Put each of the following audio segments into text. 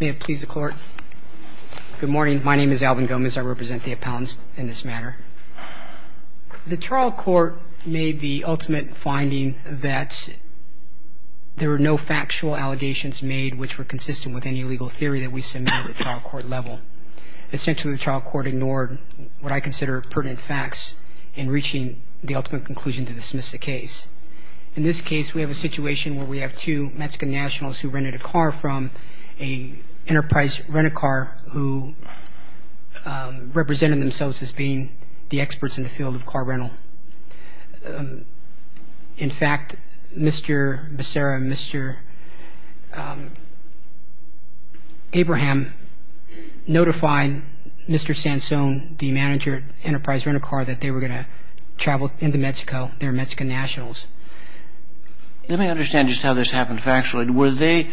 May it please the court. Good morning. My name is Alvin Gomez. I represent the appellants in this matter. The trial court made the ultimate finding that there were no factual allegations made which were consistent with any legal theory that we submit at the trial court level. Essentially, the trial court ignored what I consider pertinent facts in reaching the ultimate conclusion to dismiss the case. In this case, we have a situation where we have two Mexican nationals who rented a car from an Enterprise Rent-A-Car who represented themselves as being the experts in the field of car rental. In fact, Mr. Becerra and Mr. Abraham notified Mr. Sansone, the manager at Enterprise Rent-A-Car, that they were going to travel into Mexico. They were Mexican nationals. Let me understand just how this happened factually. Were they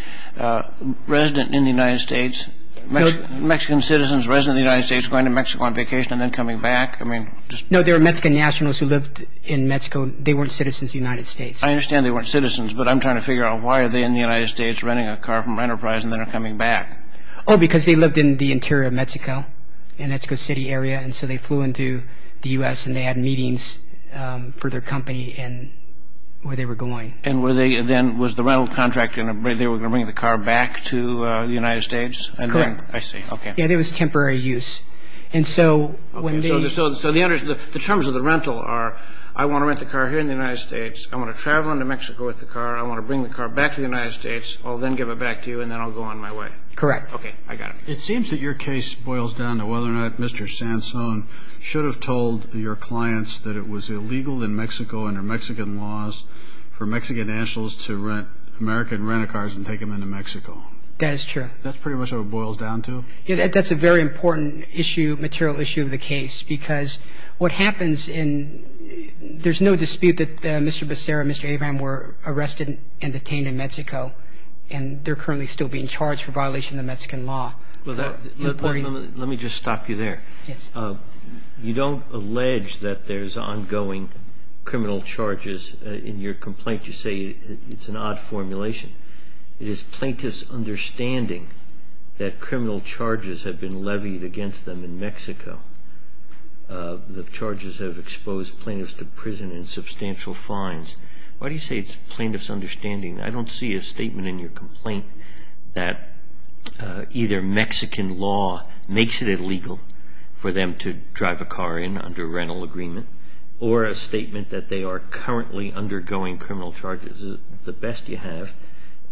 resident in the United States, Mexican citizens resident in the United States, going to Mexico on vacation and then coming back? No, they were Mexican nationals who lived in Mexico. They weren't citizens of the United States. I understand they weren't citizens, but I'm trying to figure out why are they in the United States renting a car from Enterprise and then are coming back? Oh, because they lived in the interior of Mexico, in Mexico City area, and so they flew into the U.S. and they had meetings for their company and where they were going. And were they then, was the rental contract, they were going to bring the car back to the United States? Correct. I see, okay. Yeah, it was temporary use. Okay, so the terms of the rental are, I want to rent the car here in the United States, I want to travel into Mexico with the car, I want to bring the car back to the United States, I'll then give it back to you and then I'll go on my way. Correct. Okay, I got it. It seems that your case boils down to whether or not Mr. Sansone should have told your clients that it was illegal in Mexico under Mexican laws for Mexican nationals to rent American rent-a-cars and take them into Mexico. That is true. That's pretty much what it boils down to? That's a very important issue, material issue of the case because what happens in, there's no dispute that Mr. Becerra and Mr. Abraham were arrested and detained in Mexico and they're currently still being charged for violation of Mexican law. Let me just stop you there. Yes. You don't allege that there's ongoing criminal charges in your complaint. You say it's an odd formulation. It is plaintiff's understanding that criminal charges have been levied against them in Mexico. The charges have exposed plaintiffs to prison and substantial fines. Why do you say it's plaintiff's understanding? I don't see a statement in your complaint that either Mexican law makes it illegal for them to drive a car in under rental agreement or a statement that they are currently undergoing criminal charges. The best you have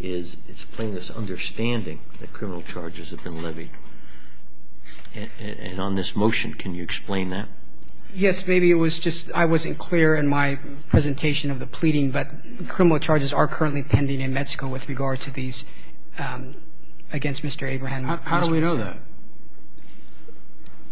is it's plaintiff's understanding that criminal charges have been levied. And on this motion, can you explain that? Yes. Maybe it was just I wasn't clear in my presentation of the pleading, but criminal charges are currently pending in Mexico with regard to these against Mr. Abraham. How do we know that?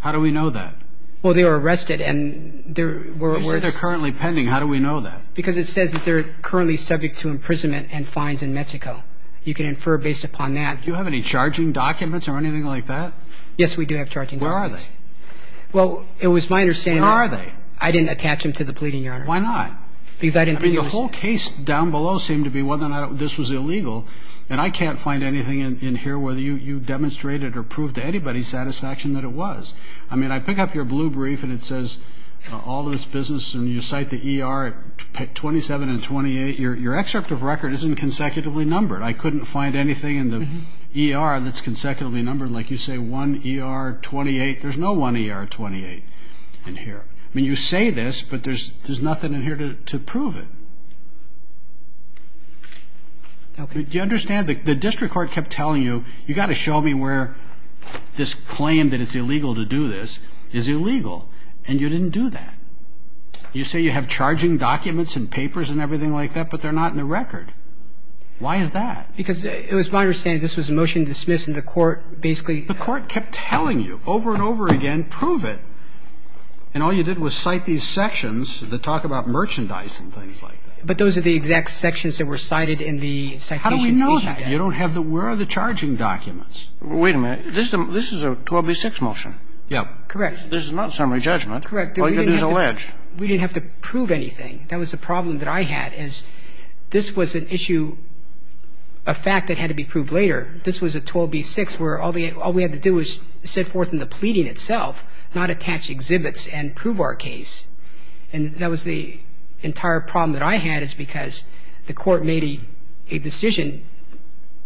How do we know that? Well, they were arrested and there were words. You said they're currently pending. How do we know that? Because it says that they're currently subject to imprisonment and fines in Mexico. You can infer based upon that. Do you have any charging documents or anything like that? Yes, we do have charging documents. Where are they? Well, it was my understanding. Where are they? I didn't attach them to the pleading, Your Honor. Why not? Because I didn't think it was. I mean, the whole case down below seemed to be whether or not this was illegal. And I can't find anything in here whether you demonstrated or proved to anybody's satisfaction that it was. I mean, I pick up your blue brief and it says all this business and you cite the E.R. 27 and 28. Your excerpt of record isn't consecutively numbered. I couldn't find anything in the E.R. that's consecutively numbered like you say 1 E.R. 28. There's no 1 E.R. 28 in here. I mean, you say this, but there's nothing in here to prove it. Do you understand? The district court kept telling you, you've got to show me where this claim that it's illegal to do this is illegal. And you didn't do that. You say you have charging documents and papers and everything like that, but they're not in the record. Why is that? Because it was my understanding this was a motion to dismiss and the court basically ---- The court kept telling you over and over again, prove it. And all you did was cite these sections that talk about merchandise and things like that. But those are the exact sections that were cited in the citation. How do we know that? You don't have the ---- Where are the charging documents? Wait a minute. This is a 12b-6 motion. Yeah. Correct. This is not a summary judgment. Correct. But it is alleged. We didn't have to prove anything. That was the problem that I had is this was an issue, a fact that had to be proved later. This was a 12b-6 where all we had to do was set forth in the pleading itself, not attach exhibits and prove our case. And that was the entire problem that I had is because the court made a decision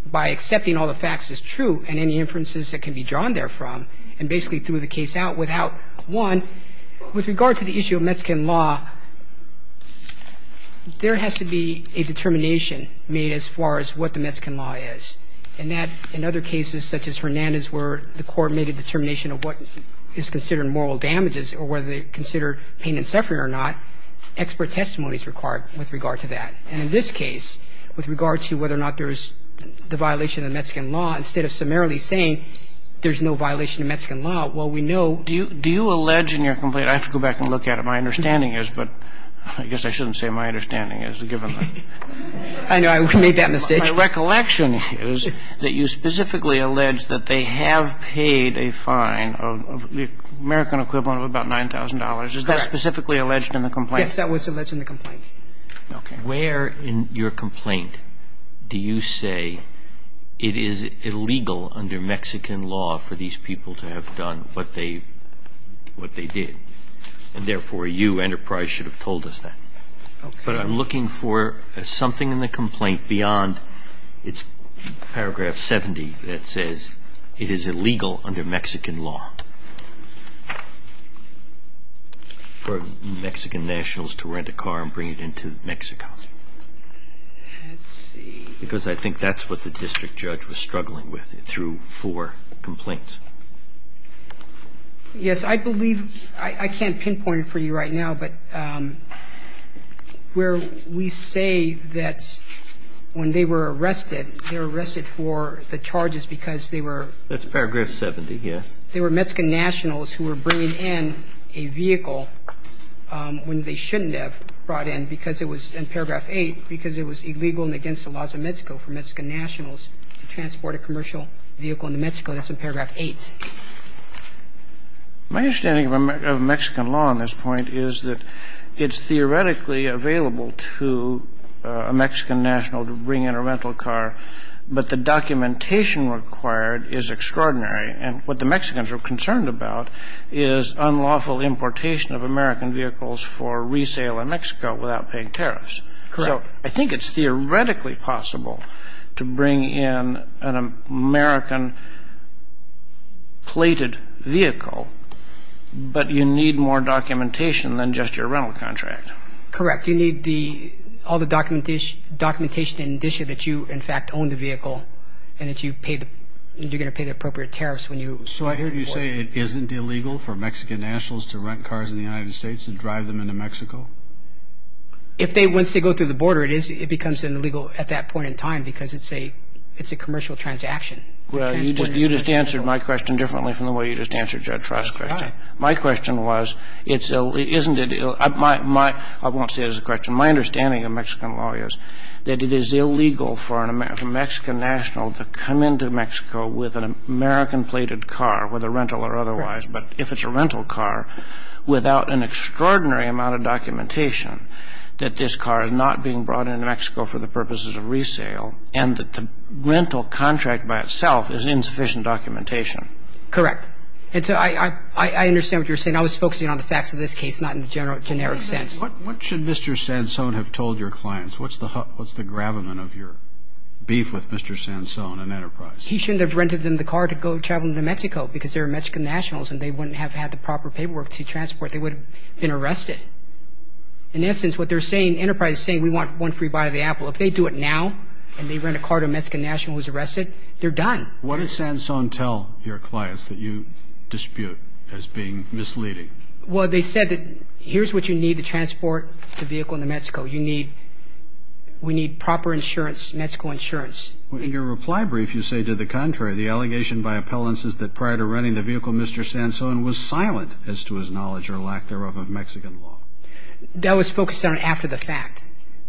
by accepting all the facts as true and any inferences that can be drawn therefrom and basically threw the case out without one. With regard to the issue of Metskan law, there has to be a determination made as far as what the Metskan law is. And that, in other cases such as Hernandez where the court made a determination of what is considered moral damages or whether they're considered pain and suffering or not, expert testimony is required with regard to that. And in this case, with regard to whether or not there's the violation of Metskan law, instead of summarily saying there's no violation of Metskan law, well, we know ---- Do you allege in your complaint ---- I have to go back and look at it. My understanding is, but I guess I shouldn't say my understanding is, given the ---- I know. I made that mistake. My recollection is that you specifically allege that they have paid a fine of the American equivalent of about $9,000. Is that specifically alleged in the complaint? Yes, that was alleged in the complaint. Okay. Where in your complaint do you say it is illegal under Mexican law for these people to have done what they did? And therefore, you, Enterprise, should have told us that. Okay. But I'm looking for something in the complaint beyond its paragraph 70 that says it is illegal under Mexican law. For Mexican nationals to rent a car and bring it into Mexico. Let's see. Because I think that's what the district judge was struggling with through four complaints. Yes. I believe ---- I can't pinpoint it for you right now, but where we say that when they were arrested, they were arrested for the charges because they were ---- That's paragraph 70, yes. They were Mexican nationals who were bringing in a vehicle when they shouldn't have brought in because it was in paragraph 8, because it was illegal and against the laws of Mexico for Mexican nationals to transport a commercial vehicle into Mexico. That's in paragraph 8. My understanding of Mexican law on this point is that it's theoretically available to a Mexican national to bring in a rental car, but the documentation required is extraordinary. And what the Mexicans are concerned about is unlawful importation of American vehicles for resale in Mexico without paying tariffs. Correct. So I think it's theoretically possible to bring in an American-plated vehicle, but you need more documentation than just your rental contract. Correct. You need the ---- all the documentation in addition that you, in fact, own the vehicle and that you're going to pay the appropriate tariffs when you import it. So I hear you say it isn't illegal for Mexican nationals to rent cars in the United States and drive them into Mexico? If they want to go through the border, it becomes illegal at that point in time because it's a commercial transaction. You just answered my question differently from the way you just answered Judge Ross' question. My question was, isn't it ---- I won't say it as a question. My understanding of Mexican law is that it is illegal for a Mexican national to come into Mexico with an American-plated car, whether rental or otherwise, but if it's a rental car, without an extraordinary amount of documentation, that this car is not being brought into Mexico for the purposes of resale and that the rental contract by itself is insufficient documentation. Correct. And so I understand what you're saying. I was focusing on the facts of this case, not in the generic sense. What should Mr. Sansone have told your clients? What's the gravamen of your beef with Mr. Sansone and Enterprise? He shouldn't have rented them the car to go travel to Mexico because they're Mexican nationals and they wouldn't have had the proper paperwork to transport. They would have been arrested. In essence, what they're saying, Enterprise is saying, we want one free buy of the Apple. If they do it now and they rent a car to a Mexican national who's arrested, they're done. What did Sansone tell your clients that you dispute as being misleading? Well, they said that here's what you need to transport the vehicle into Mexico. You need ñ we need proper insurance, Mexico insurance. In your reply brief, you say, to the contrary, the allegation by appellants is that prior to renting the vehicle, Mr. Sansone was silent as to his knowledge or lack thereof of Mexican law. That was focused on after the fact.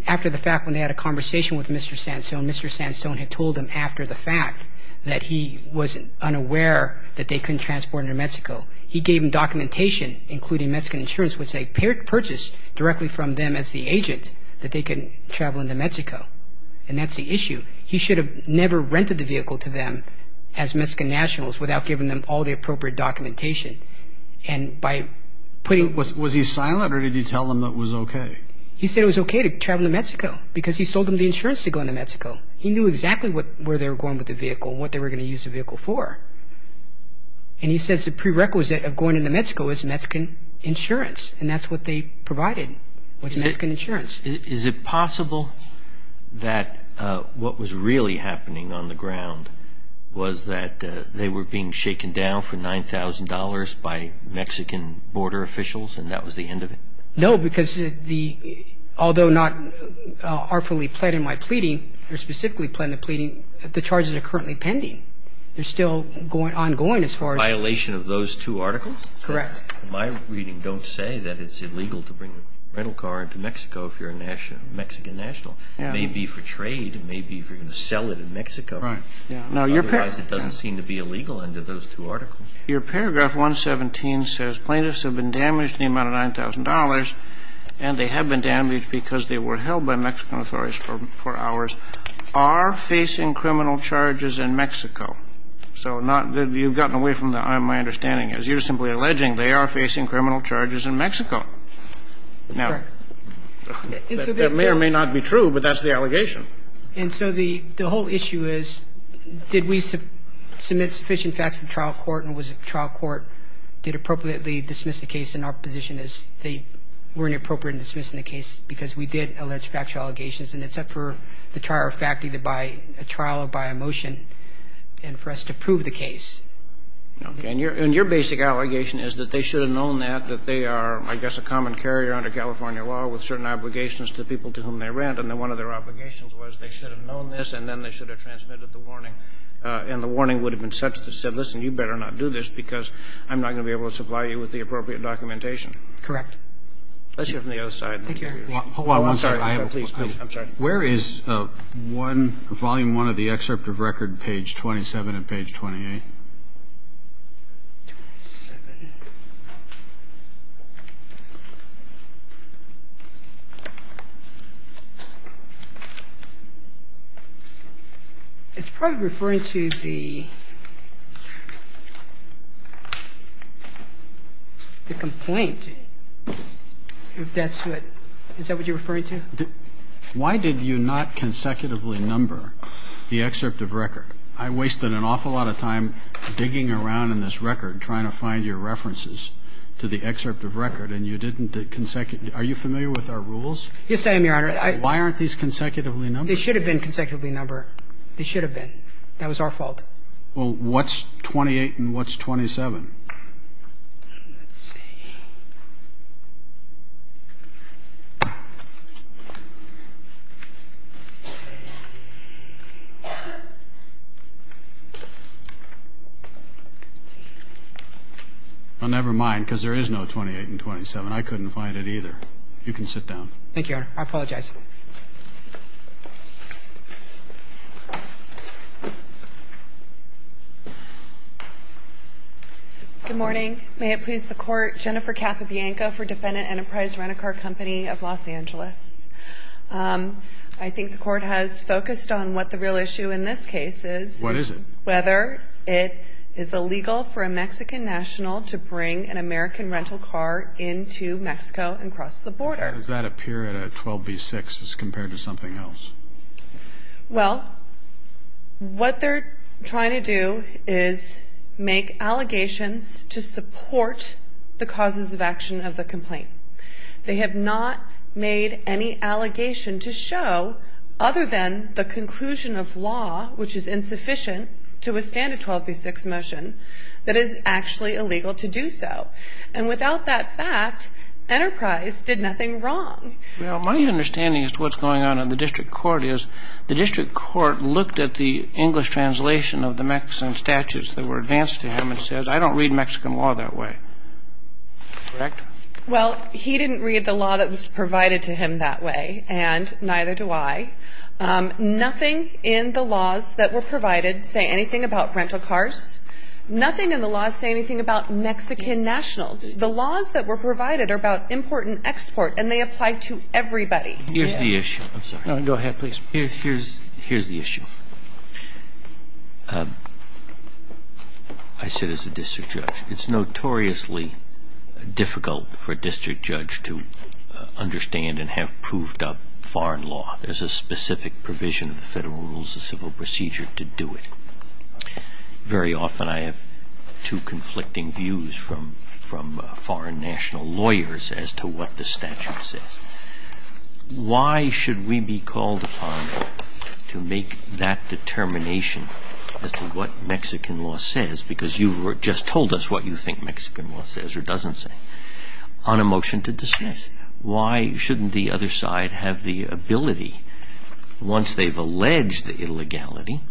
After the fact, when they had a conversation with Mr. Sansone, Mr. Sansone had told him after the fact that he was unaware that they couldn't transport it to Mexico. He gave them documentation, including Mexican insurance, which they purchased directly from them as the agent that they could travel into Mexico. And that's the issue. He should have never rented the vehicle to them as Mexican nationals without giving them all the appropriate documentation. And by putting ñ Was he silent or did he tell them that it was okay? He said it was okay to travel to Mexico because he sold them the insurance to go into Mexico. He knew exactly where they were going with the vehicle and what they were going to use the vehicle for. And he says the prerequisite of going into Mexico is Mexican insurance, and that's what they provided was Mexican insurance. Is it possible that what was really happening on the ground was that they were being shaken down for $9,000 by Mexican border officials and that was the end of it? No, because the ñ although not artfully pled in my pleading, or specifically pled in the pleading, the charges are currently pending. They're still ongoing as far as ñ Violation of those two articles? Correct. My reading don't say that it's illegal to bring a rental car into Mexico if you're a Mexican national. Yeah. It may be for trade. It may be if you're going to sell it in Mexico. Right. Otherwise, it doesn't seem to be illegal under those two articles. Your paragraph 117 says plaintiffs have been damaged in the amount of $9,000, and they have been damaged because they were held by Mexican authorities for hours, and they are facing criminal charges in Mexico. So not ñ you've gotten away from my understanding. As you're simply alleging, they are facing criminal charges in Mexico. Correct. Now, that may or may not be true, but that's the allegation. And so the whole issue is did we submit sufficient facts to the trial court and was the trial court ñ did appropriately dismiss the case in our position as they were inappropriate in dismissing the case because we did allege factual allegations, and it's up for the trial faculty to buy a trial or buy a motion and for us to prove the case. Okay. And your basic allegation is that they should have known that, that they are, I guess, a common carrier under California law with certain obligations to the people to whom they rent, and that one of their obligations was they should have known this and then they should have transmitted the warning, and the warning would have been such that said, listen, you better not do this because I'm not going to be able to supply you with the appropriate documentation. Correct. Let's hear from the other side. Thank you. I'm sorry. Hold on one second. Please, please. I'm sorry. Where is one, volume one of the excerpt of record, page 27 and page 28? Twenty-seven. It's probably referring to the complaint, if that's what you're referring to. Why did you not consecutively number the excerpt of record? I wasted an awful lot of time digging around in this record, trying to find your references to the excerpt of record, and you didn't consecutively. Are you familiar with our rules? Yes, I am, Your Honor. Why aren't these consecutively numbered? They should have been consecutively numbered. They should have been. That was our fault. Well, what's 28 and what's 27? Well, never mind, because there is no 28 and 27. I couldn't find it either. You can sit down. Thank you, Your Honor. I apologize. Good morning. May it please the Court. Jennifer Capobianco for Defendant Enterprise Rent-A-Car Company of Los Angeles. I think the Court has focused on what the real issue in this case is. What is it? Whether it is illegal for a Mexican national to bring an American rental car into Mexico and cross the border. Does that appear at a 12b-6 as compared to something else? Well, what they're trying to do is make allegations to support the causes of action of the complaint. They have not made any allegation to show, other than the conclusion of law, which is insufficient to withstand a 12b-6 motion, that it is actually illegal to do so. And without that fact, Enterprise did nothing wrong. Well, my understanding as to what's going on in the district court is the district court looked at the English translation of the Mexican statutes that were advanced to him and says, I don't read Mexican law that way. Correct? Well, he didn't read the law that was provided to him that way, and neither do I. Nothing in the laws that were provided say anything about rental cars. Nothing in the laws say anything about Mexican nationals. The laws that were provided are about import and export, and they apply to everybody. Here's the issue. I'm sorry. No, go ahead, please. Here's the issue. I sit as a district judge. It's notoriously difficult for a district judge to understand and have proved up foreign law. There's a specific provision of the Federal Rules of Civil Procedure to do it. Very often I have two conflicting views from foreign national lawyers as to what the statute says. Why should we be called upon to make that determination as to what Mexican law says, because you just told us what you think Mexican law says or doesn't say, on a motion to dismiss? Why shouldn't the other side have the ability, once they've alleged the illegality,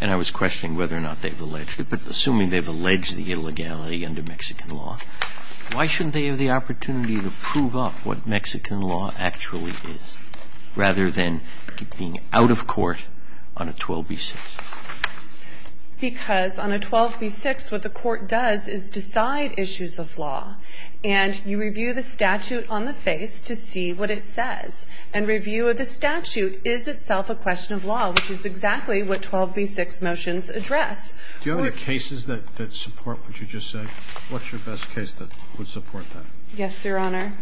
and I was questioning whether or not they've alleged it, but assuming they've alleged the illegality under Mexican law, why shouldn't they have the opportunity to prove up what Mexican law actually is, rather than being out of court on a 12b-6? Because on a 12b-6 what the court does is decide issues of law, and you review the statute on the face to see what it says. And review of the statute is itself a question of law, which is exactly what 12b-6 motions address. Do you have any cases that support what you just said? What's your best case that would support that? Yes, Your Honor.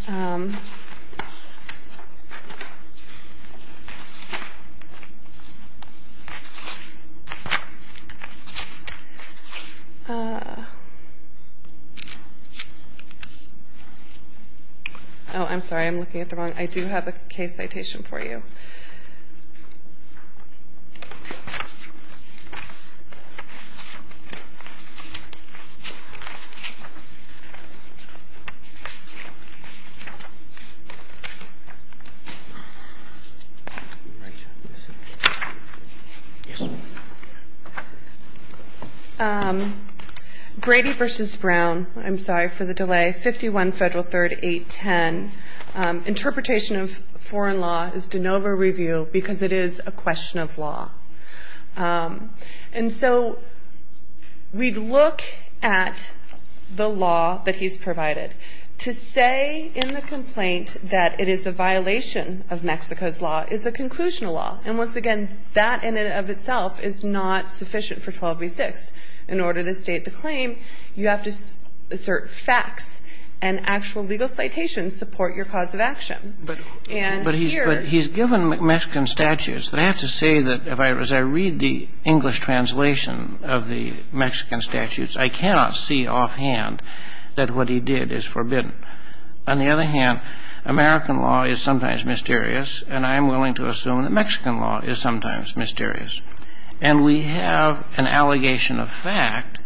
Oh, I'm sorry. I'm looking at the wrong one. I do have a case citation for you. Yes, ma'am. Brady v. Brown. I'm sorry for the delay. 51 Federal 3rd 810. Interpretation of foreign law is de novo review because it is a question of law. And so we look at the law that he's provided. To say in the complaint that it is a violation of Mexico's law is a conclusional law. And once again, that in and of itself is not sufficient for 12b-6. In order to state the claim, you have to assert facts. And actual legal citations support your cause of action. But he's given Mexican statutes. I have to say that as I read the English translation of the Mexican statutes, I cannot see offhand that what he did is forbidden. On the other hand, American law is sometimes mysterious, and I am willing to assume that Mexican law is sometimes mysterious. And we have an allegation of fact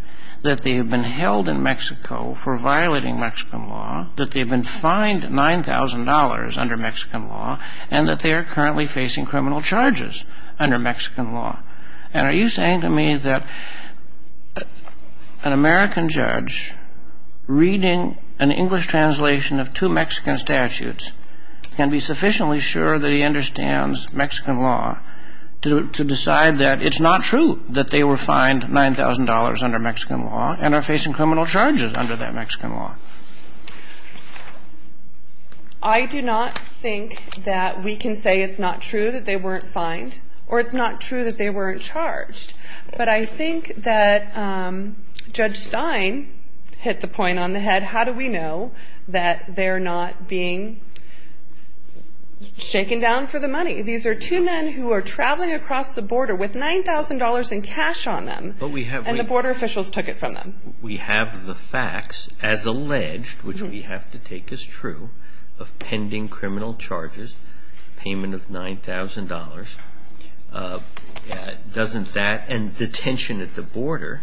that they have been held in Mexico for violating Mexican law, that they have been fined $9,000 under Mexican law, and that they are currently facing criminal charges under Mexican law. And are you saying to me that an American judge reading an English translation of two Mexican statutes can be sufficiently sure that he understands Mexican law to decide that it's not true that they were fined $9,000 under Mexican law and are facing criminal charges under that Mexican law? I do not think that we can say it's not true that they weren't fined or it's not true that they weren't charged. But I think that Judge Stein hit the point on the head, how do we know that they're not being shaken down for the money? These are two men who are traveling across the border with $9,000 in cash on them, and the border officials took it from them. We have the facts as alleged, which we have to take as true, of pending criminal charges, payment of $9,000, dozens that, and detention at the border.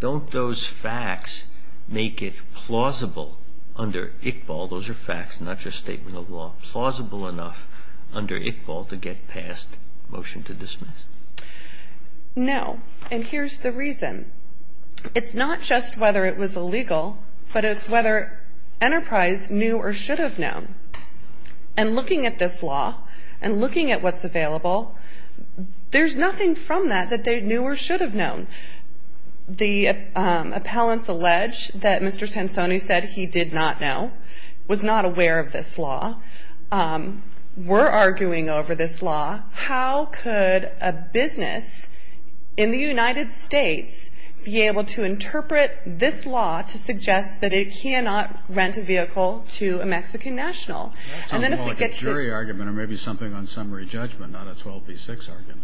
Don't those facts make it plausible under ICBAL? Those are facts, not just statement of law. Plausible enough under ICBAL to get past motion to dismiss? No. And here's the reason. It's not just whether it was illegal, but it's whether Enterprise knew or should have known. And looking at this law and looking at what's available, there's nothing from that that they knew or should have known. The appellants allege that Mr. Sansoni said he did not know, was not aware of this law, were arguing over this law. How could a business in the United States be able to interpret this law to suggest that it cannot rent a vehicle to a Mexican national? Sounds more like a jury argument or maybe something on summary judgment, not a 12B6 argument.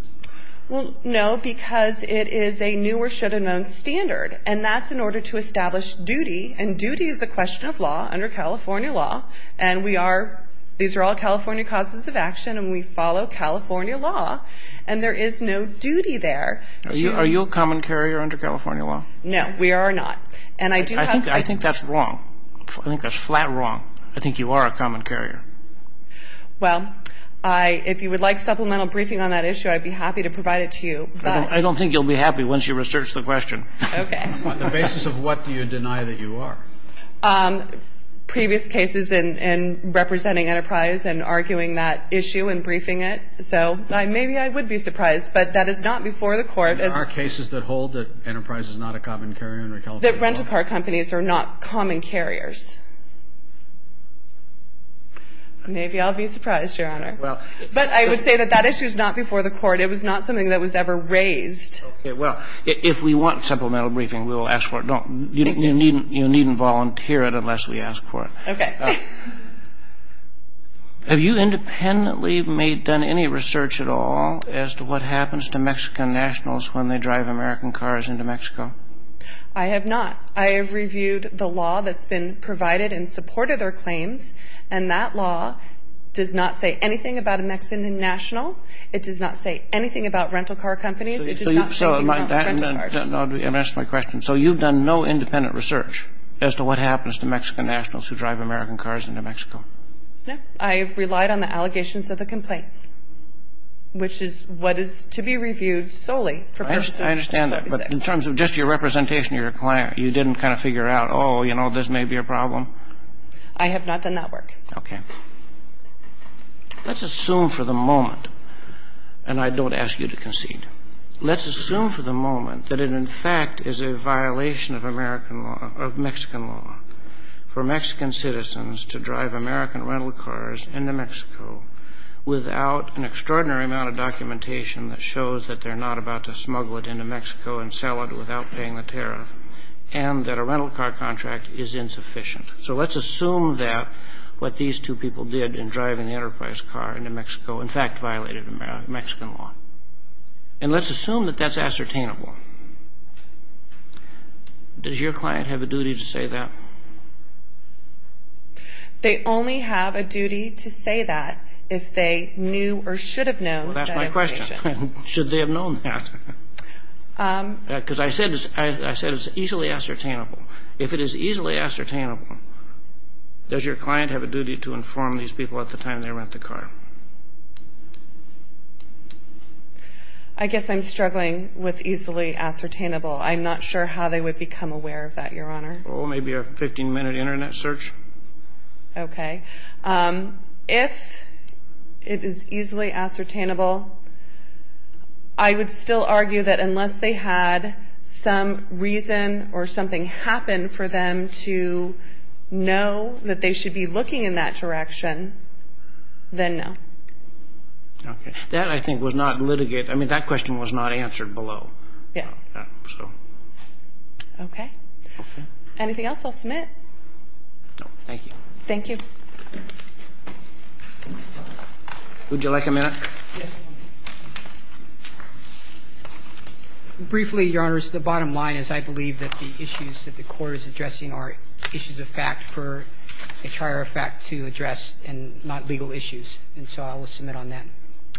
Well, no, because it is a knew or should have known standard. And that's in order to establish duty. And duty is a question of law under California law. And we are, these are all California causes of action, and we follow California law. And there is no duty there. Are you a common carrier under California law? No, we are not. And I do have. I think that's wrong. I think that's flat wrong. I think you are a common carrier. Well, if you would like supplemental briefing on that issue, I'd be happy to provide it to you. I don't think you'll be happy once you research the question. Okay. On the basis of what do you deny that you are? Previous cases in representing Enterprise and arguing that issue and briefing it. So maybe I would be surprised. But that is not before the Court. There are cases that hold that Enterprise is not a common carrier under California law. That rental car companies are not common carriers. Maybe I'll be surprised, Your Honor. But I would say that that issue is not before the Court. It was not something that was ever raised. Okay. Well, if we want supplemental briefing, we will ask for it. You needn't volunteer it unless we ask for it. Okay. Have you independently done any research at all as to what happens to Mexican nationals when they drive American cars into Mexico? I have not. I have reviewed the law that's been provided in support of their claims, and that law does not say anything about a Mexican national. It does not say anything about rental car companies. It does not say anything about rental cars. I'm going to ask my question. So you've done no independent research as to what happens to Mexican nationals who drive American cars into Mexico? No. I have relied on the allegations of the complaint, which is what is to be reviewed solely. I understand that. But in terms of just your representation of your client, you didn't kind of figure out, oh, you know, this may be a problem? I have not done that work. Okay. Let's assume for the moment, and I don't ask you to concede, let's assume for the moment that it in fact is a violation of American law, of Mexican law, for Mexican citizens to drive American rental cars into Mexico without an extraordinary amount of documentation that shows that they're not about to smuggle it into Mexico and sell it without paying the tariff, and that a rental car contract is insufficient. So let's assume that what these two people did in driving the Enterprise car into Mexico in fact violated Mexican law. And let's assume that that's ascertainable. Does your client have a duty to say that? They only have a duty to say that if they knew or should have known that it was. Good question. Should they have known that? Because I said it's easily ascertainable. If it is easily ascertainable, does your client have a duty to inform these people at the time they rent the car? I guess I'm struggling with easily ascertainable. I'm not sure how they would become aware of that, Your Honor. Well, maybe a 15-minute Internet search. Okay. If it is easily ascertainable, I would still argue that unless they had some reason or something happen for them to know that they should be looking in that direction, then no. Okay. That, I think, was not litigated. I mean, that question was not answered below. Yes. Okay. Anything else I'll submit? No, thank you. Thank you. Would you like a minute? Briefly, Your Honors, the bottom line is I believe that the issues that the Court is addressing are issues of fact for a trier of fact to address and not legal issues. And so I will submit on that.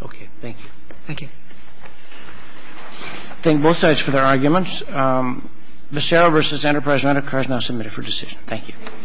Okay. Thank you. Thank you. Thank both sides for their arguments. Visceral v. Enterprise Rent-A-Car is now submitted for decision. Thank you. Thank you.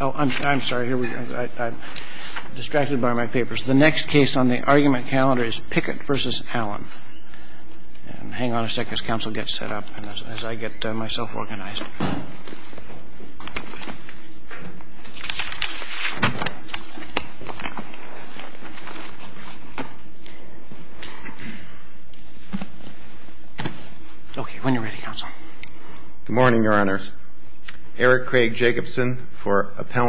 Oh, I'm sorry. Here we go. I'm distracted by my papers. The next case on the argument calendar is Pickett v. Allen. And hang on a second as counsel gets set up and as I get myself organized. Okay. When you're ready, counsel. Good morning, Your Honors. Eric Craig Jacobson for Appellant.